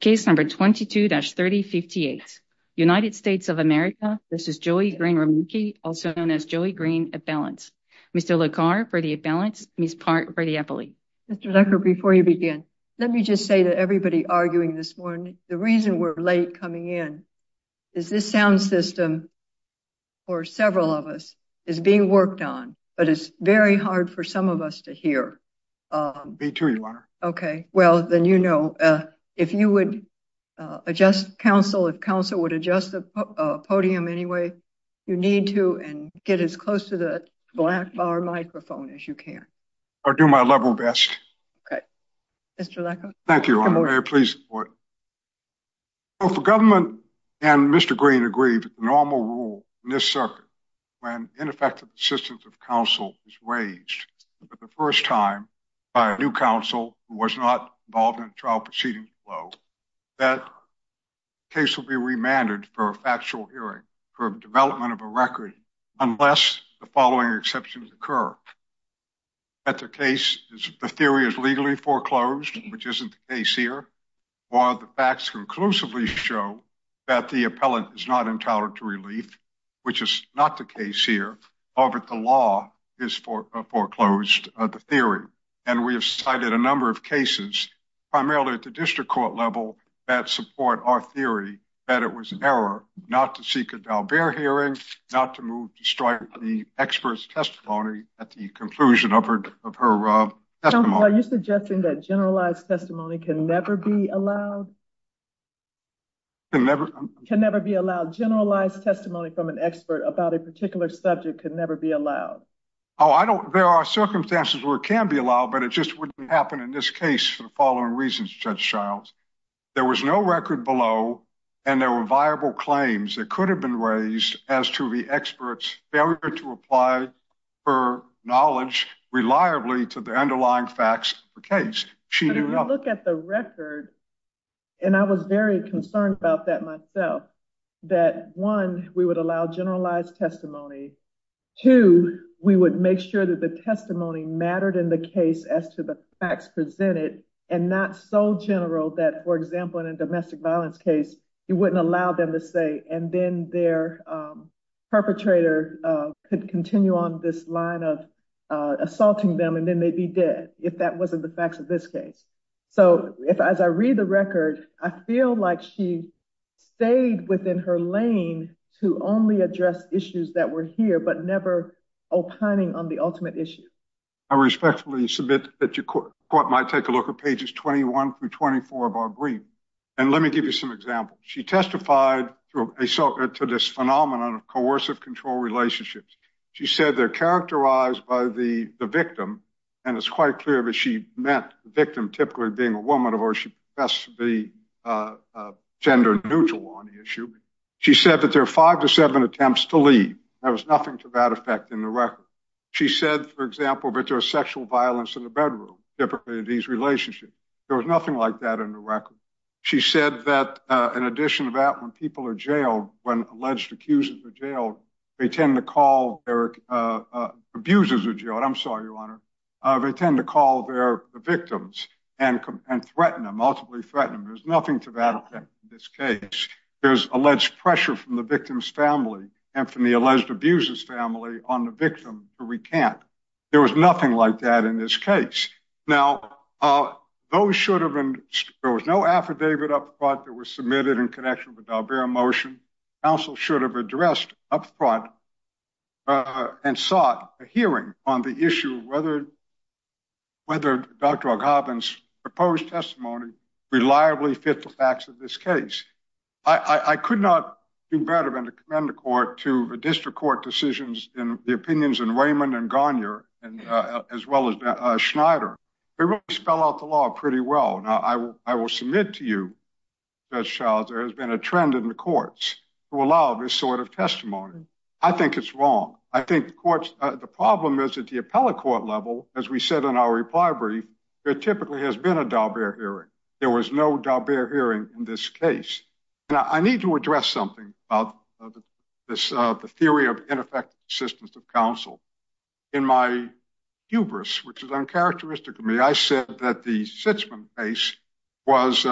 Case number 22-3058. United States of America. This is Joey Green-Remache, also known as Joey Green-Imbalance. Mr. LeCar, for the imbalance. Ms. Part, for the epilepsy. Mr. LeCar, before you begin, let me just say to everybody arguing this morning, the reason we're late coming in is this sound system, for several of us, is being worked on, but it's very hard for some of us to Okay, well, then, you know, if you would adjust counsel, if counsel would adjust the podium anyway, you need to, and get as close to the black bar microphone as you can. I'll do my level best. Okay. Mr. LeCar. Thank you, Your Honor. I'm very pleased. Both the government and Mr. Green agree that the normal rule in this circuit, when ineffective assistance of counsel is waged, for the first time by a new counsel who was not involved in the trial proceeding flow, that case will be remanded for a factual hearing, for development of a record, unless the following exceptions occur. That the case is, the theory is legally foreclosed, which isn't the case here, while the facts conclusively show that the appellant is not entitled to relief, which is not the case here. However, the law is foreclosed, the theory, and we have cited a number of cases, primarily at the district court level, that support our theory that it was an error not to seek a Dalbert hearing, not to move to strike the expert's testimony at the conclusion of her testimony. Are you suggesting that generalized testimony can never be allowed? Can never be allowed? Generalized testimony from an expert about a particular subject could never be allowed? Oh, I don't, there are circumstances where it can be allowed, but it just wouldn't happen in this case for the following reasons, Judge Childs. There was no record below, and there were viable claims that could have been raised as to the expert's failure to apply her knowledge reliably to the underlying facts of the case. But if you look at the record, and I was very concerned about that myself, that one, we would allow generalized testimony, two, we would make sure that the testimony mattered in the case as to the facts presented, and not so general that, for example, in a domestic violence case, you wouldn't allow them to say, and then their perpetrator could continue on this line of assaulting them, and then they'd be dead if that wasn't the facts of this case. So, as I read the record, I feel like she stayed within her lane to only address issues that were here, but never opining on the ultimate issue. I respectfully submit that your court might take a look at pages 21 through 24 of our brief, and let me give you some examples. She testified to this phenomenon of coercive control relationships. She said they're characterized by the victim, and it's quite clear that she meant the victim typically being a woman, or she professed to be gender neutral on the issue. She said that there are five to seven attempts to leave. There was nothing to that effect in the record. She said, for example, that there was sexual violence in the bedroom, typically in these relationships. There was in addition to that, when people are jailed, when alleged accusers are jailed, they tend to call abusers who are jailed. I'm sorry, Your Honor. They tend to call their victims and threaten them, ultimately threaten them. There's nothing to that effect in this case. There's alleged pressure from the victim's family and from the alleged abuser's family on the victim to recant. There was nothing like that in this case. Now, there was no affidavit up front. There was no affidavit that was submitted in connection with the Dalbert motion. Counsel should have addressed up front and sought a hearing on the issue of whether Dr. Ogaben's proposed testimony reliably fit the facts of this case. I could not do better than to commend the court to the district court decisions in the opinions of Raymond and Garnier, as well as Schneider. They really spell out the law pretty well. Now, I will submit to you, Judge Charles, there has been a trend in the courts to allow this sort of testimony. I think it's wrong. I think the problem is at the appellate court level, as we said in our reply brief, there typically has been a Dalbert hearing. There was no Dalbert hearing in this case. I need to address something about the theory of ineffective assistance of counsel. In my hubris, which is uncharacteristic of me, I said that the Sitzman case, which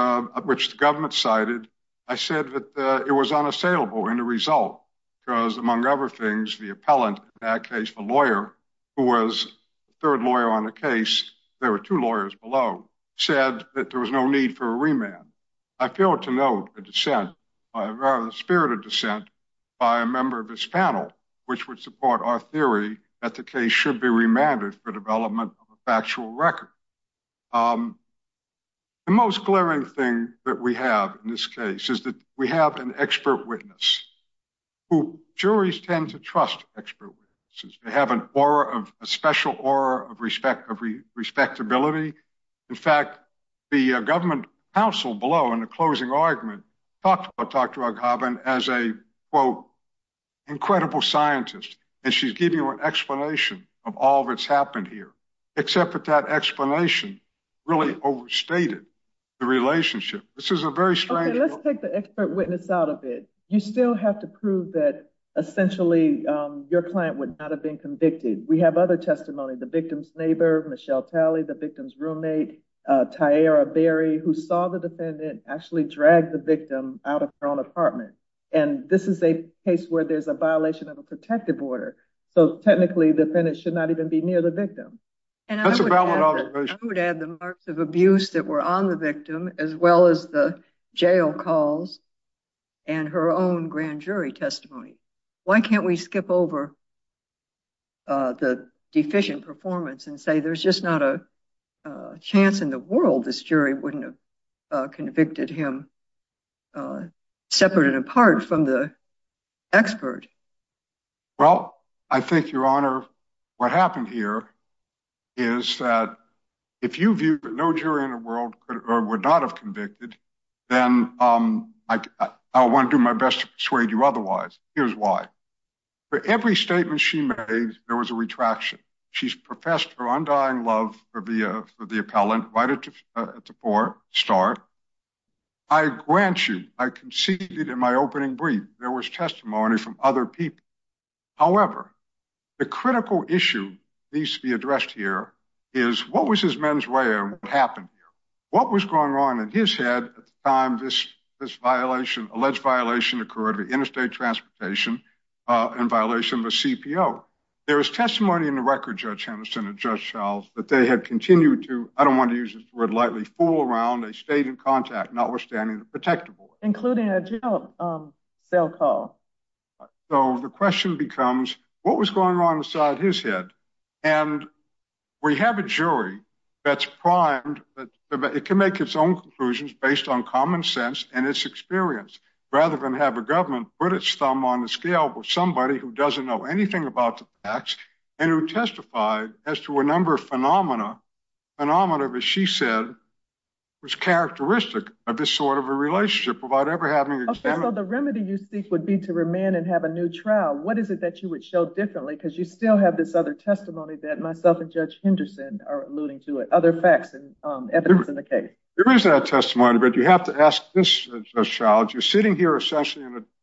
the government cited, I said that it was unassailable in the result because, among other things, the appellant, in that case, the lawyer, who was the third lawyer on the case, there were two lawyers below, said that there was no need for a remand. I feel to note the spirit of dissent by a member of this panel, which would support our theory that the case should be remanded for development of a factual record. The most glaring thing that we have in this case is that we have an expert witness, who juries tend to trust expert witnesses. They have a special aura of respectability. In fact, the government counsel below, in the closing argument, talked about Dr. Aghavan as a incredible scientist, and she's giving you an explanation of all that's happened here, except that that explanation really overstated the relationship. This is a very strange... Okay, let's take the expert witness out of it. You still have to prove that, essentially, your client would not have been convicted. We have other testimony, the victim's neighbor, Michelle Talley, the victim's roommate, Tyaira Berry, who saw the defendant actually drag the case where there's a violation of a protective order. So technically, the defendant should not even be near the victim. That's a valid observation. I would add the marks of abuse that were on the victim, as well as the jail calls, and her own grand jury testimony. Why can't we skip over the deficient performance and say there's just not a chance in the world this jury wouldn't have convicted him, separate and apart from the expert? Well, I think, Your Honor, what happened here is that if you viewed that no jury in the world would not have convicted, then I want to do my best to persuade you otherwise. Here's why. For every statement she made, there was a retraction. She's professed her undying love for the appellant right at the start. I grant you, I conceded in my opening brief, there was testimony from other people. However, the critical issue needs to be addressed here is what was his men's way and what happened here? What was going on in his head at the time this alleged violation occurred, interstate transportation in violation of a CPO? There was testimony in the record, Judge Henderson and Judge Childs, that they had continued to, I don't want to use this word lightly, fool around. They stayed in contact, notwithstanding the protective order. Including a jail cell call. So the question becomes, what was going on inside his head? And we have a jury that's primed, it can make its own conclusions based on common sense and its experience. Rather than have a government put its thumb on the scale with somebody who doesn't know anything about the facts and who testified as to a number of phenomena, phenomena that she said was characteristic of this sort of a relationship without ever having examined. Okay, so the remedy you seek would be to remand and have a new trial. What is it that you would show differently? Because you still have this other testimony that myself and Judge Henderson are alluding to it. Other facts and evidence in the case. There is that testimony, but you have to ask this, Judge Childs. You're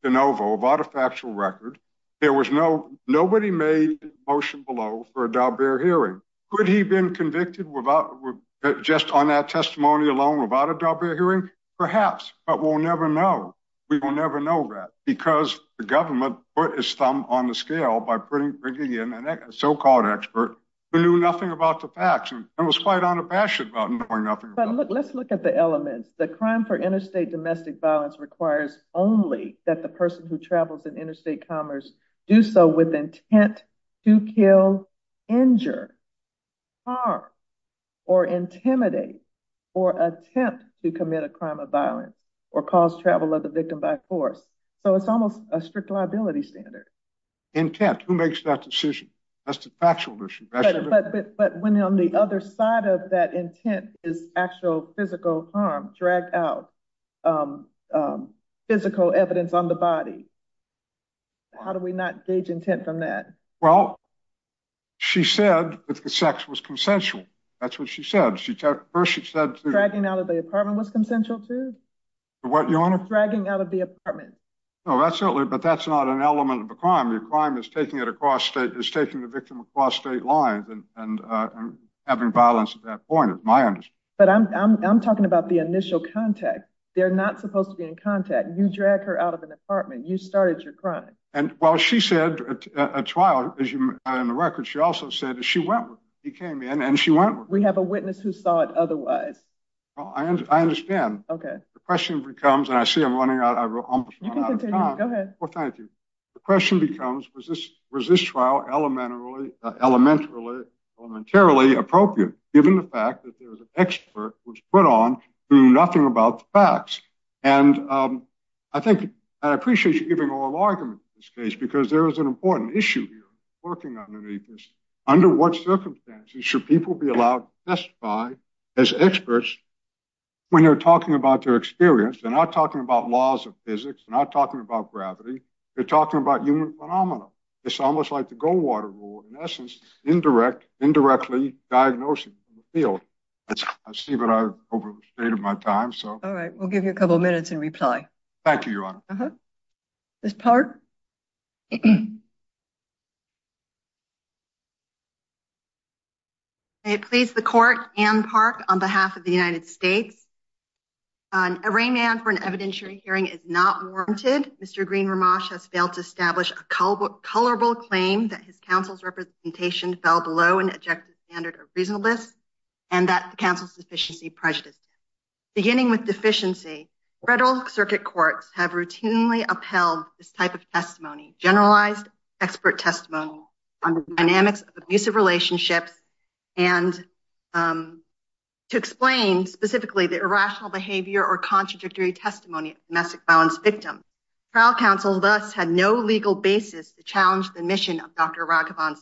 de novo, without a factual record, there was no, nobody made a motion below for a Daubert hearing. Could he have been convicted without, just on that testimony alone, without a Daubert hearing? Perhaps, but we'll never know. We will never know that. Because the government put its thumb on the scale by bringing in a so-called expert who knew nothing about the facts and was quite unimpassioned about knowing nothing. But let's look at the elements. The crime for interstate domestic violence requires only that the person who travels in interstate commerce do so with intent to kill, injure, harm, or intimidate, or attempt to commit a crime of violence, or cause travel of the victim by force. So it's almost a strict liability standard. Intent, who makes that decision? That's the factual issue. But when on the other side of that intent is actual physical harm, dragged out physical evidence on the body, how do we not gauge intent from that? Well, she said that the sex was consensual. That's what she said. First she said- Dragging out of the apartment was consensual too? What, Your Honor? Dragging out of the apartment. No, absolutely. But that's not an element of the crime. The crime is taking it across state, is taking the victim across state lines and having violence at that point, is my understanding. But I'm talking about the initial contact. They're not supposed to be in contact. You drag her out of an apartment. You started your crime. And while she said a trial, in the record, she also said that she went with him. He came in and she went with him. We have a witness who saw it otherwise. Well, I understand. The question becomes, and I see I'm running out of time. You can continue. Go ahead. Well, thank you. The question becomes, was this trial elementarily appropriate, given the fact that there was an expert who was put on who knew nothing about the facts? And I think, and I appreciate you giving oral argument in this case, because there is an important issue here working underneath this. Under what circumstances should people be allowed to testify as experts when they're talking about their experience? They're not talking about laws of physics. They're not talking about gravity. They're talking about human phenomena. It's almost like the Goldwater rule. In essence, indirectly diagnosing the field. I see that I've overstated my time. All right. We'll give you a couple of minutes in reply. Thank you, Your Honor. Ms. Park? May it please the court, Ann Park, on behalf of the United States. Arraignment for an evidentiary hearing is not warranted. Mr. Green-Romash has failed to fell below an objective standard of reasonableness and that the counsel's deficiency prejudice. Beginning with deficiency, federal circuit courts have routinely upheld this type of testimony, generalized expert testimony on the dynamics of abusive relationships. And to explain specifically the irrational behavior or contradictory testimony of domestic violence victims, trial counsel thus had no legal basis to challenge the mission of Dr. Green-Romash.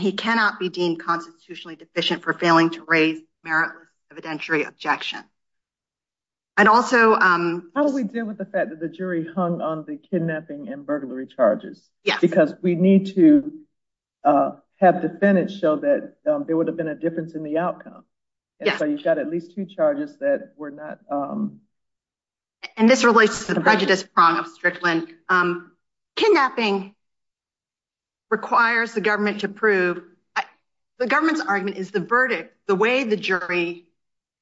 He cannot be deemed constitutionally deficient for failing to raise meritless evidentiary objection. How do we deal with the fact that the jury hung on the kidnapping and burglary charges? Because we need to have defendants show that there would have been a difference in the outcome. So you've got at least two charges that were not... And this relates to the prejudice prong of Strickland. Kidnapping requires the government to prove... The government's argument is the verdict, the way the jury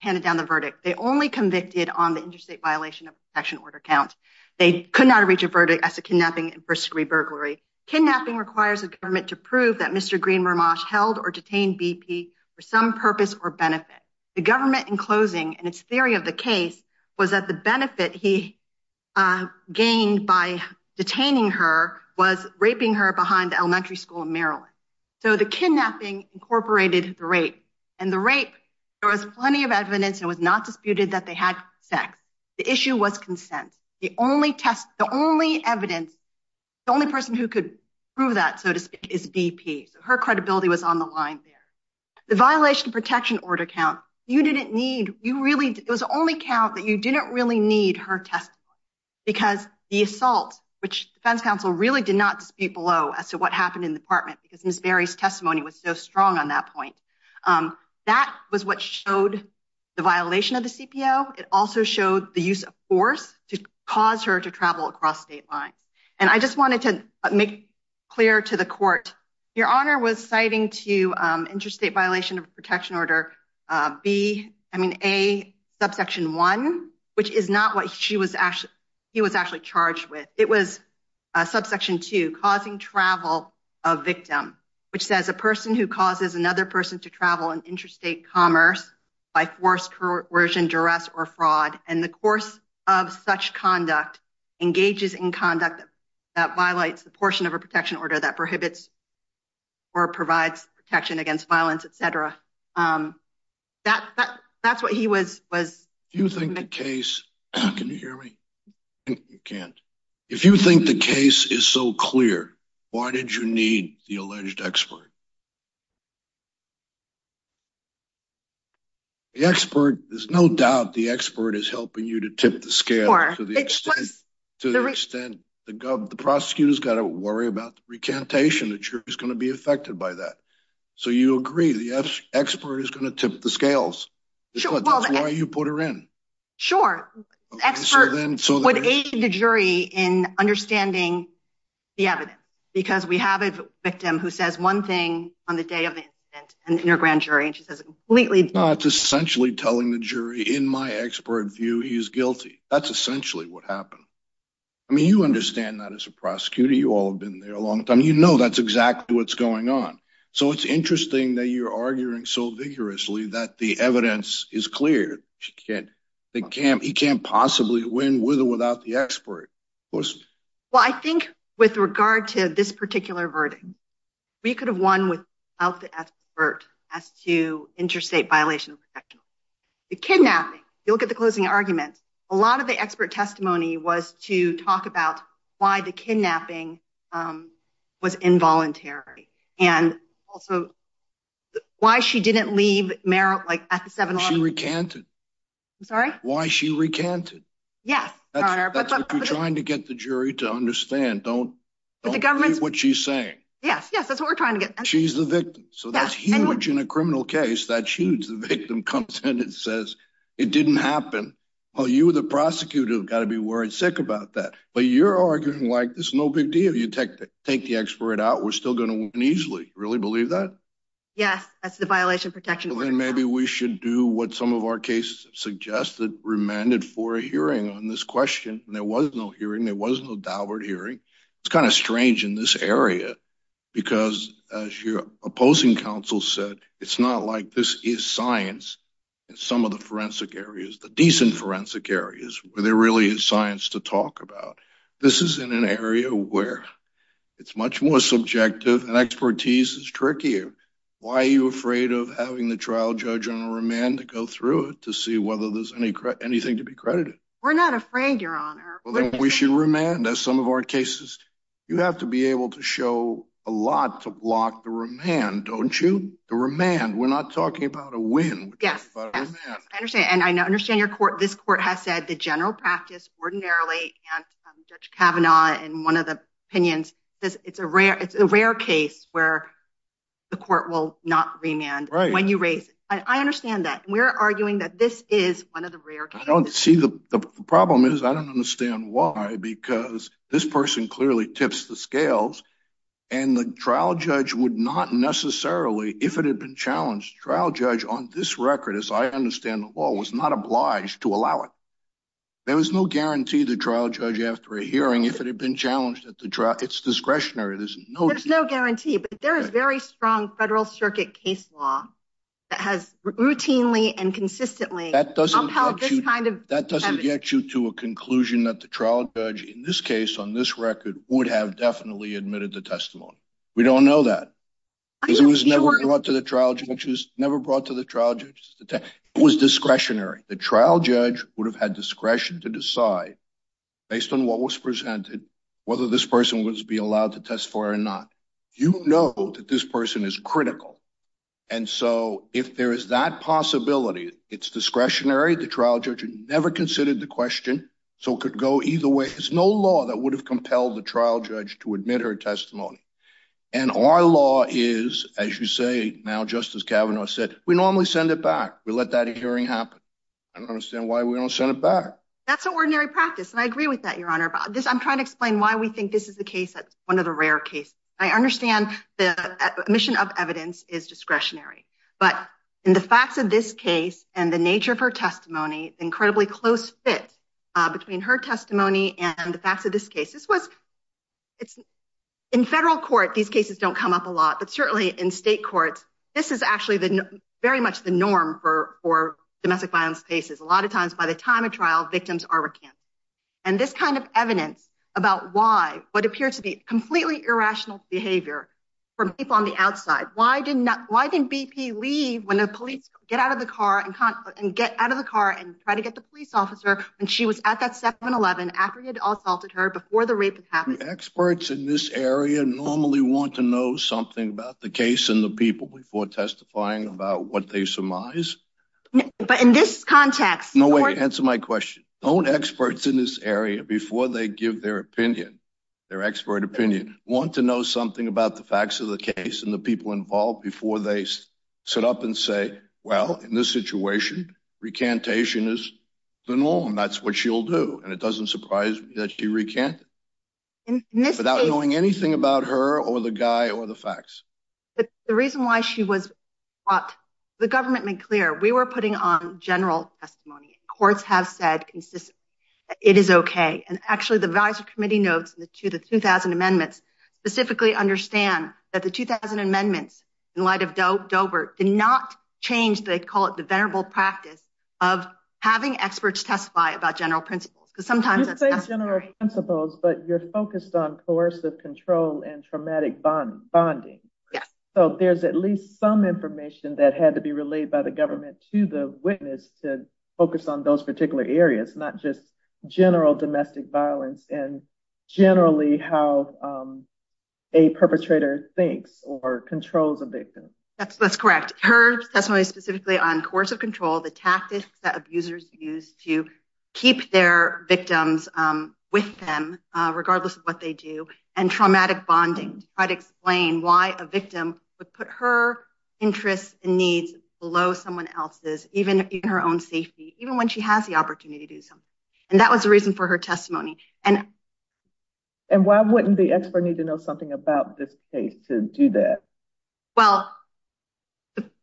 handed down the verdict. They only convicted on the interstate violation of protection order count. They could not reach a verdict as a kidnapping and first degree burglary. Kidnapping requires the government to prove that Mr. Green-Romash held or detained BP for some purpose or benefit. The government in closing and its theory of the case was that the benefit he gained by detaining her was raping her behind the elementary school in Maryland. So the kidnapping incorporated the rape. And the rape, there was plenty of evidence. It was not disputed that they had sex. The issue was consent. The only test, the only evidence, the only person who could prove that, so to speak, is BP. So her credibility was on the line there. The violation of protection order count, you didn't need, you really, it was the only count that you didn't really need her testimony. Because the assault, which defense counsel really did not dispute below as to what happened in the apartment, because Ms. Berry's testimony was so strong on that point. That was what showed the violation of the CPO. It also showed the use of force to cause her to travel across state lines. And I just wanted to make clear to the court, your honor was citing to interstate violation of protection order B, I mean, A, subsection one, which is not what she was actually, he was actually charged with. It was subsection two, causing travel of victim, which says a person who causes another person to travel in interstate commerce by force, coercion, duress, or fraud, and the course of such conduct engages in conduct that violates the portion of a protection order that prohibits or provides protection against violence, et cetera. That's what he was. If you think the case, can you hear me? You can't. If you think the case is so clear, why did you need the alleged expert? The expert, there's no doubt the expert is helping you to tip the scale to the extent the prosecutor's got to worry about the recantation. The jury is going to be affected by that. So you agree the expert is going to tip the scales. That's why you put her in. Sure, expert would aid the jury in understanding the evidence. Because we have a victim who says one thing on the day of the incident, an inner grand jury, and she says completely- That's essentially telling the jury in my expert view, he's guilty. That's essentially what happened. I mean, you understand that as a prosecutor. You all have been there a long time. You know that's exactly what's going on. So it's interesting that you're arguing so vigorously that the evidence is clear. He can't possibly win with or without the expert. Well, I think with regard to this particular verdict, we could have won without the expert as to interstate violation of protection. The kidnapping, you look at the closing argument, a lot of the expert testimony was to talk about why the kidnapping was involuntary. And also why she didn't leave Merrill at the 7-Eleven- She recanted. I'm sorry? Why she recanted. Yes, Your Honor. That's what you're trying to get the jury to understand. Don't believe what she's saying. Yes, yes. That's what we're trying to get. She's the victim. So that's huge in a criminal case. That's huge. The victim comes in and says, it didn't happen. Well, you, the prosecutor, have got to be worried sick about that. But you're arguing like it's no big deal. You take the expert out, we're still going to win easily. Do you really believe that? Yes, that's the violation of protection. Then maybe we should do what some of our cases have suggested, remanded for a hearing on this question. There was no hearing. There was no Daubert hearing. It's kind of strange in this area because, as your opposing counsel said, it's not like this is science in some of the forensic areas, the decent forensic areas, where there really is science to talk about. This is in an area where it's much more subjective and expertise is trickier. Why are you afraid of having the trial judge on a remand to go through it to see whether there's anything to be credited? We're not afraid, Your Honor. Well, then we should remand, as some of our cases. You have to be able to show a lot to block the remand, don't you? The remand. We're not talking about a win. We're talking about a remand. I understand. I understand this court has said the general practice ordinarily, and Judge Kavanaugh in one of the opinions, it's a rare case where the court will not remand when you raise it. I understand that. We're arguing that this is one of the rare cases. I don't see the problem is, I don't understand why, because this person clearly tips the trial judge on this record, as I understand the law, was not obliged to allow it. There was no guarantee the trial judge after a hearing, if it had been challenged at the trial, it's discretionary. There's no guarantee. But there is very strong federal circuit case law that has routinely and consistently upheld this kind of evidence. That doesn't get you to a conclusion that the trial judge in this case, on this record, would have definitely admitted the testimony. We don't know that. It was never brought to the trial judge. It was never brought to the trial judge. It was discretionary. The trial judge would have had discretion to decide based on what was presented, whether this person would be allowed to test for or not. You know that this person is critical. And so if there is that possibility, it's discretionary. The trial judge never considered the question. So it could go either way. There's no law that would have compelled the trial judge to admit her testimony. And our law is, as you say, now, Justice Kavanaugh said, we normally send it back. We let that hearing happen. I don't understand why we don't send it back. That's an ordinary practice. And I agree with that, Your Honor. I'm trying to explain why we think this is the case that's one of the rare cases. I understand the omission of evidence is discretionary. But in the facts of this case and the nature of her testimony, incredibly close fit between her testimony and the facts of this case. This was in federal court. These cases don't come up a lot, but certainly in state courts, this is actually very much the norm for domestic violence cases. A lot of times by the time of trial, victims are recanted. And this kind of evidence about why what appeared to be completely irrational behavior from people on the outside. Why didn't BP leave when the police get out of the car and try to get the police officer when she was at that 7-11 after he had assaulted her before the rape happened? Experts in this area normally want to know something about the case and the people before testifying about what they surmise. But in this context- No, wait, answer my question. Don't experts in this area, before they give their opinion, their expert opinion, want to know something about the facts of the case and the people involved before they sit up and say, well, in this situation, recantation is the norm. That's what she'll do. And it doesn't surprise me that she recanted without knowing anything about her or the guy or the facts. The reason why she was brought, the government made clear, we were putting on general testimony. Courts have said consistently, it is okay. And actually, the advisory committee notes to the 2000 amendments specifically understand that the 2000 amendments in light of Doebert did not change, they call it the venerable practice of having experts testify about general principles because sometimes- You say general principles, but you're focused on coercive control and traumatic bonding. So there's at least some information that had to be relayed by the government to the witness to focus on those particular areas, not just general domestic violence and generally how a perpetrator thinks or controls a victim. That's correct. Her testimony specifically on coercive control, the tactics that abusers use to keep their victims with them, regardless of what they do, and traumatic bonding to try to explain why a victim would put her interests and needs below someone else's, even in her own safety, even when she has the opportunity to do so. And that was the reason for her testimony. And why wouldn't the expert need to know something about this case to do that? Well,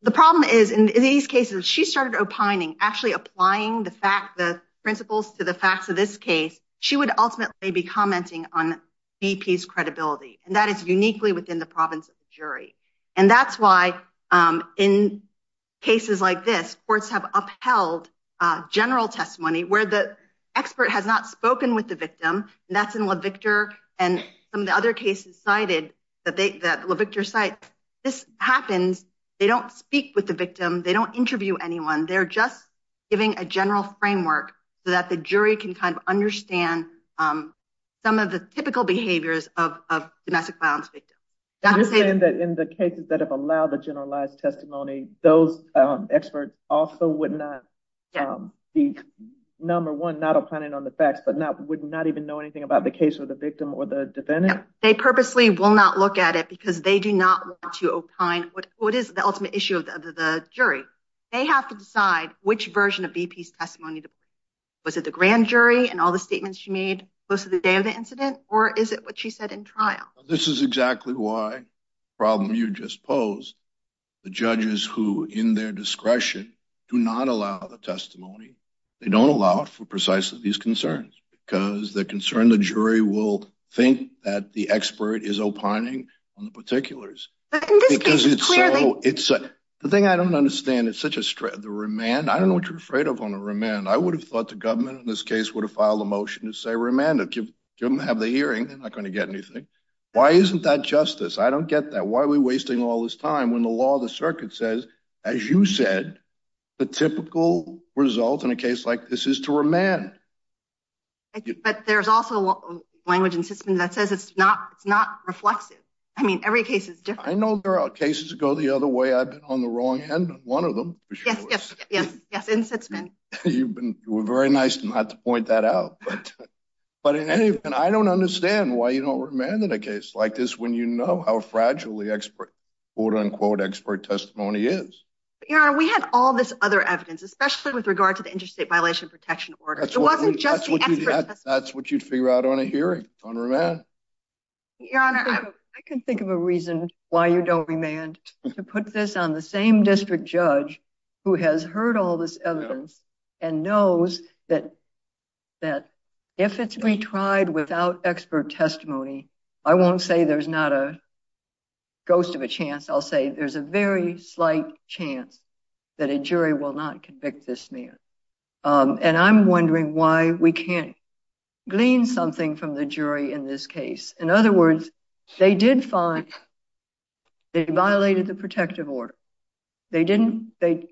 the problem is in these cases, she started opining, actually applying the fact, the principles to the facts of this case, she would ultimately be commenting on BP's credibility. And that is uniquely within the province of the jury. And that's why in cases like this, courts have upheld general testimony where the expert has not spoken with the victim. That's in Levictor. And some of the other cases cited that Levictor cites, this happens. They don't speak with the victim. They don't interview anyone. They're just giving a general framework so that the jury can kind of understand some of the typical behaviors of domestic violence victims. You're saying that in the cases that have allowed the generalized testimony, those experts also would not be, number one, not opining on the facts, but would not even know anything about the case or the victim or the defendant? They purposely will not look at it because they do not want to opine what is the ultimate issue of the jury. They have to decide which version of BP's testimony. Was it the grand jury and all the statements she made close to the day of the incident? Or is it what she said in trial? This is exactly why the problem you just posed. The judges who, in their discretion, do not allow the testimony, they don't allow it for precisely these concerns because the concern the jury will think that the expert is opining on the particulars. But in this case, it's clearly- It's the thing I don't understand. It's such a str- the remand. I don't know what you're afraid of on a remand. I would have thought the government in this case would have filed a motion to say remand to have the hearing. They're not going to get anything. Why isn't that justice? I don't get that. Why are we wasting all this time when the law of the circuit says, as you said, the typical result in a case like this is to remand? But there's also language in Sitzman that says it's not- it's not reflexive. I mean, every case is different. I know there are cases that go the other way. I've been on the wrong end of one of them. Yes, yes, yes, yes. In Sitzman. You've been- you were very nice not to point that out. But in any event, I don't understand why you don't remand in a case like this when you know how fragile the expert, quote unquote, expert testimony is. Your Honor, we had all this other evidence, especially with regard to the interstate violation protection order. It wasn't just the expert testimony. That's what you'd figure out on a hearing, on remand. Your Honor, I can think of a reason why you don't remand to put this on the same district judge who has heard all this evidence and knows that- that if it's retried without expert testimony, I won't say there's not a ghost of a chance. I'll say there's a very slight chance that a jury will not convict this man. And I'm wondering why we can't glean something from the jury in this case. In other words, they did find- they violated the protective order. They didn't- they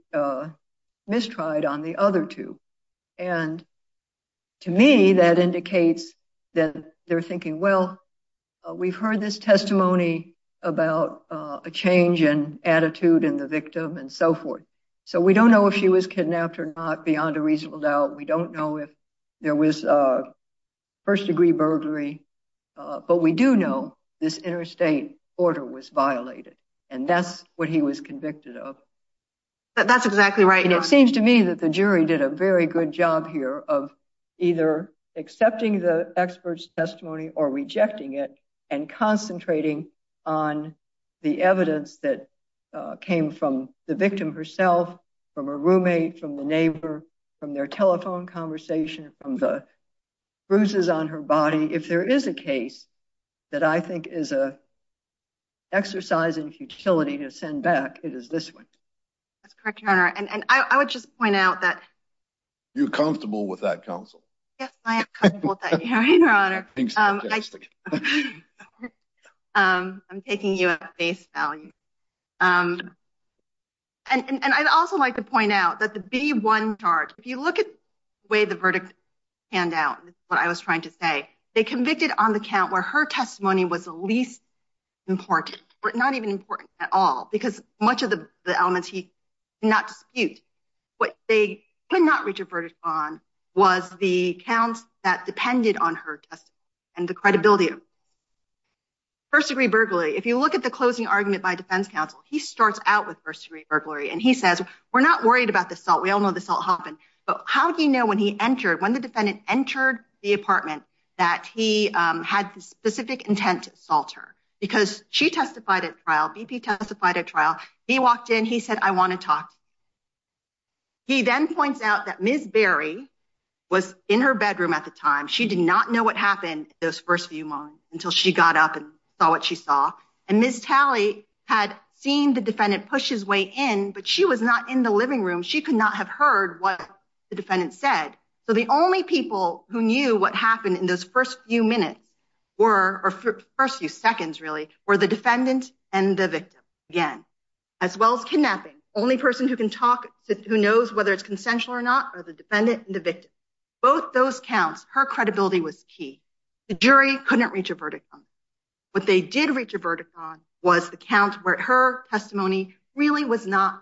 mistried on the other two. And to me, that indicates that they're thinking, well, we've heard this testimony about a change in attitude in the victim and so forth. So we don't know if she was kidnapped or not beyond a reasonable doubt. We don't know if there was first-degree burglary. But we do know this interstate order was violated. And that's what he was convicted of. That's exactly right. And it seems to me that the jury did a very good job here of either accepting the expert's testimony or rejecting it and concentrating on the evidence that came from the victim herself, from a roommate, from the neighbor, from their telephone conversation, from the bruises on her to send back. It is this one. That's correct, Your Honor. And I would just point out that- You're comfortable with that counsel? Yes, I am comfortable with that hearing, Your Honor. I'm taking you at face value. And I'd also like to point out that the B1 charge, if you look at the way the verdict panned out, what I was trying to say, they convicted on the count where her testimony was the least important, or not even important at all, because much of the elements he did not dispute. What they could not reach a verdict on was the counts that depended on her testimony and the credibility of her. First-degree burglary, if you look at the closing argument by defense counsel, he starts out with first-degree burglary. And he says, we're not worried about the assault. We all know the assault happened. But how do you know when he entered, when the defendant entered the apartment, that he had the specific intent to assault her? Because she testified at trial. BP testified at trial. He walked in. He said, I want to talk. He then points out that Ms. Berry was in her bedroom at the time. She did not know what happened those first few months until she got up and saw what she saw. And Ms. Talley had seen the defendant push his way in, but she was not in the living room. She could not have heard what the defendant said. So the only people who knew what happened in those first few minutes were, or first few seconds, really, were the defendant and the victim, again, as well as kidnapping. Only person who can talk, who knows whether it's consensual or not, are the defendant and the victim. Both those counts, her credibility was key. The jury couldn't reach a verdict on. What they did reach a verdict on was the count where her testimony really was not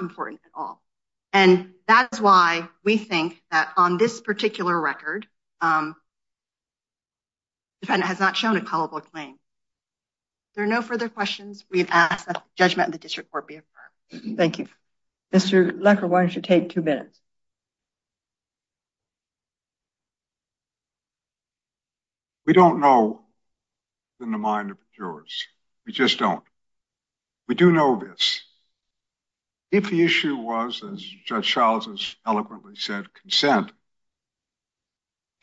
important at all. And that's why we think that on this particular record, the defendant has not shown a culpable claim. There are no further questions we've asked that the judgment of the district court be affirmed. Thank you. Mr. Lecker, why don't you take two minutes? We don't know in the mind of the jurors. We just don't. We do know this. If the issue was, as Judge Charles has eloquently said, consent,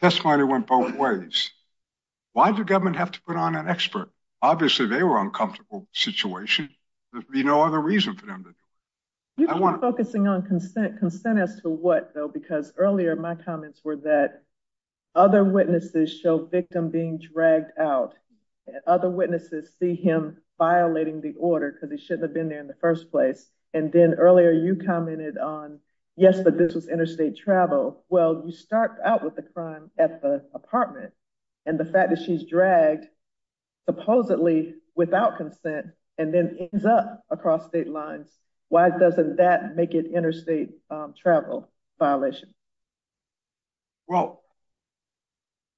testimony went both ways. Why did the government have to put on an expert? Obviously, they were uncomfortable with the situation. There'd be no other reason for them to do it. You've been focusing on consent. Consent as to what, though? Because earlier, my comments were that other witnesses show victim being dragged out and other witnesses see him violating the order because he shouldn't have been there in the first place. And then earlier, you commented on, yes, but this was interstate travel. Well, you start out with the crime at the apartment and the fact that she's dragged supposedly without consent and then ends up across state lines. Why doesn't that make it interstate travel violation? Well,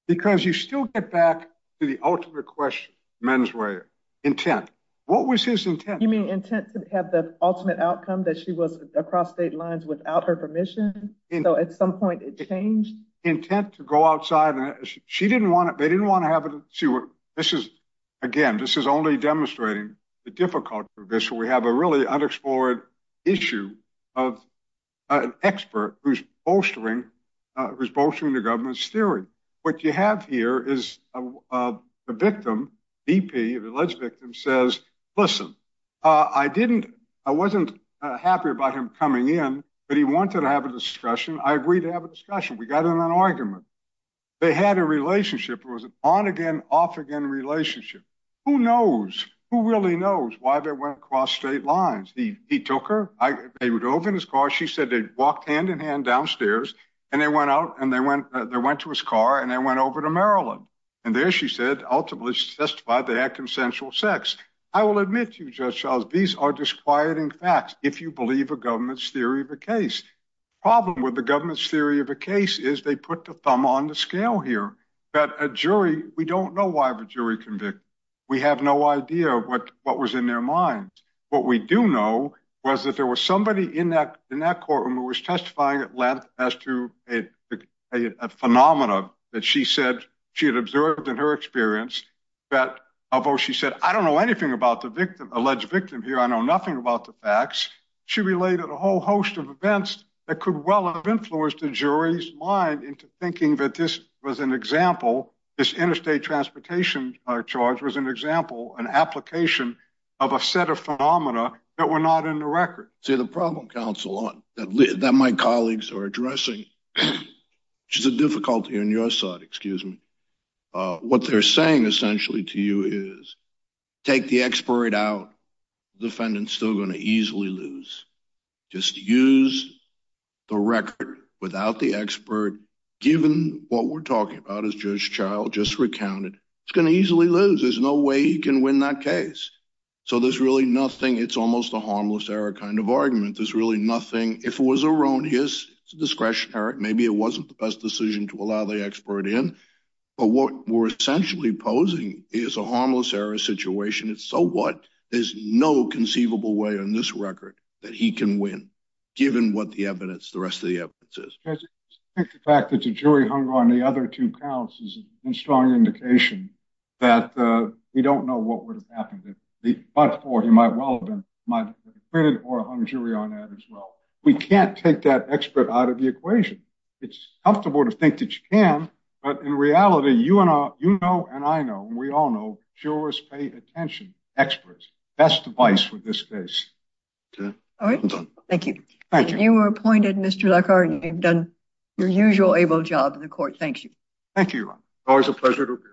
because you still get back to the ultimate question, mens rea, intent. What was his intent? You mean intent to have the ultimate outcome that she was across state lines without her permission? So at some point it changed. Intent to go outside. She didn't want it. They didn't want to have it. She would. This is again, this is only demonstrating the difficulty of this. We have a really unexplored issue of an expert who's bolstering who's bolstering the government's theory. What you have here is a victim. BP, the alleged victim says, listen, I didn't. I wasn't happy about him coming in, but he wanted to have a discussion. I agreed to have a discussion. We got in an argument. They had a relationship. It was an on again, off again relationship. Who knows? Who really knows why they went across state lines? He took her. I would open his car. She said they walked hand in hand downstairs and they went out and they went, they went to his car and they went over to Maryland. And there she said, ultimately, she testified they had consensual sex. I will admit to you, Judge Charles, these are disquieting facts. If you believe a government's theory of a case problem with the government's theory of a case is they put the thumb on the scale here that a jury, we don't know why the jury convicted. We have no idea what was in their minds. What we do know was that there was somebody in that in that courtroom who was testifying as to a phenomena that she said she had observed in her experience that although she said, I don't know anything about the victim, alleged victim here. I know nothing about the facts. She related a whole host of events that could well have influenced the jury's mind into thinking that this was an example. This interstate transportation charge was an example, an application of a set of phenomena that were not in the record. See, the problem, counsel, that my colleagues are addressing, which is a difficulty on your side, excuse me, what they're saying essentially to you is take the expert out. Defendant's still going to easily lose. Just use the record without the expert, given what we're talking about, as Judge Charles just recounted. It's going to easily lose. There's no way you can win that case. So there's really nothing. It's almost a harmless error kind of argument. There's really nothing. If it was around his discretion, Eric, maybe it wasn't the best decision to allow the expert in. But what we're essentially posing is a harmless error situation. It's so what? There's no conceivable way on this record that he can win, given what the evidence, the rest of the evidence is. I think the fact that the jury hung on the other two counts is a strong indication that we don't know what would have happened if he fought for, he might well have been acquitted or hung jury on that as well. We can't take that expert out of the equation. It's comfortable to think that you can, but in reality, you and I, you know, and I know, and we all know, jurors pay attention. Experts. Best advice for this case. All right. Thank you. Thank you. You were appointed, Mr. Leclerc, and you've done your usual able job in the court. Thank you. Thank you. Always a pleasure to appear. Thank you.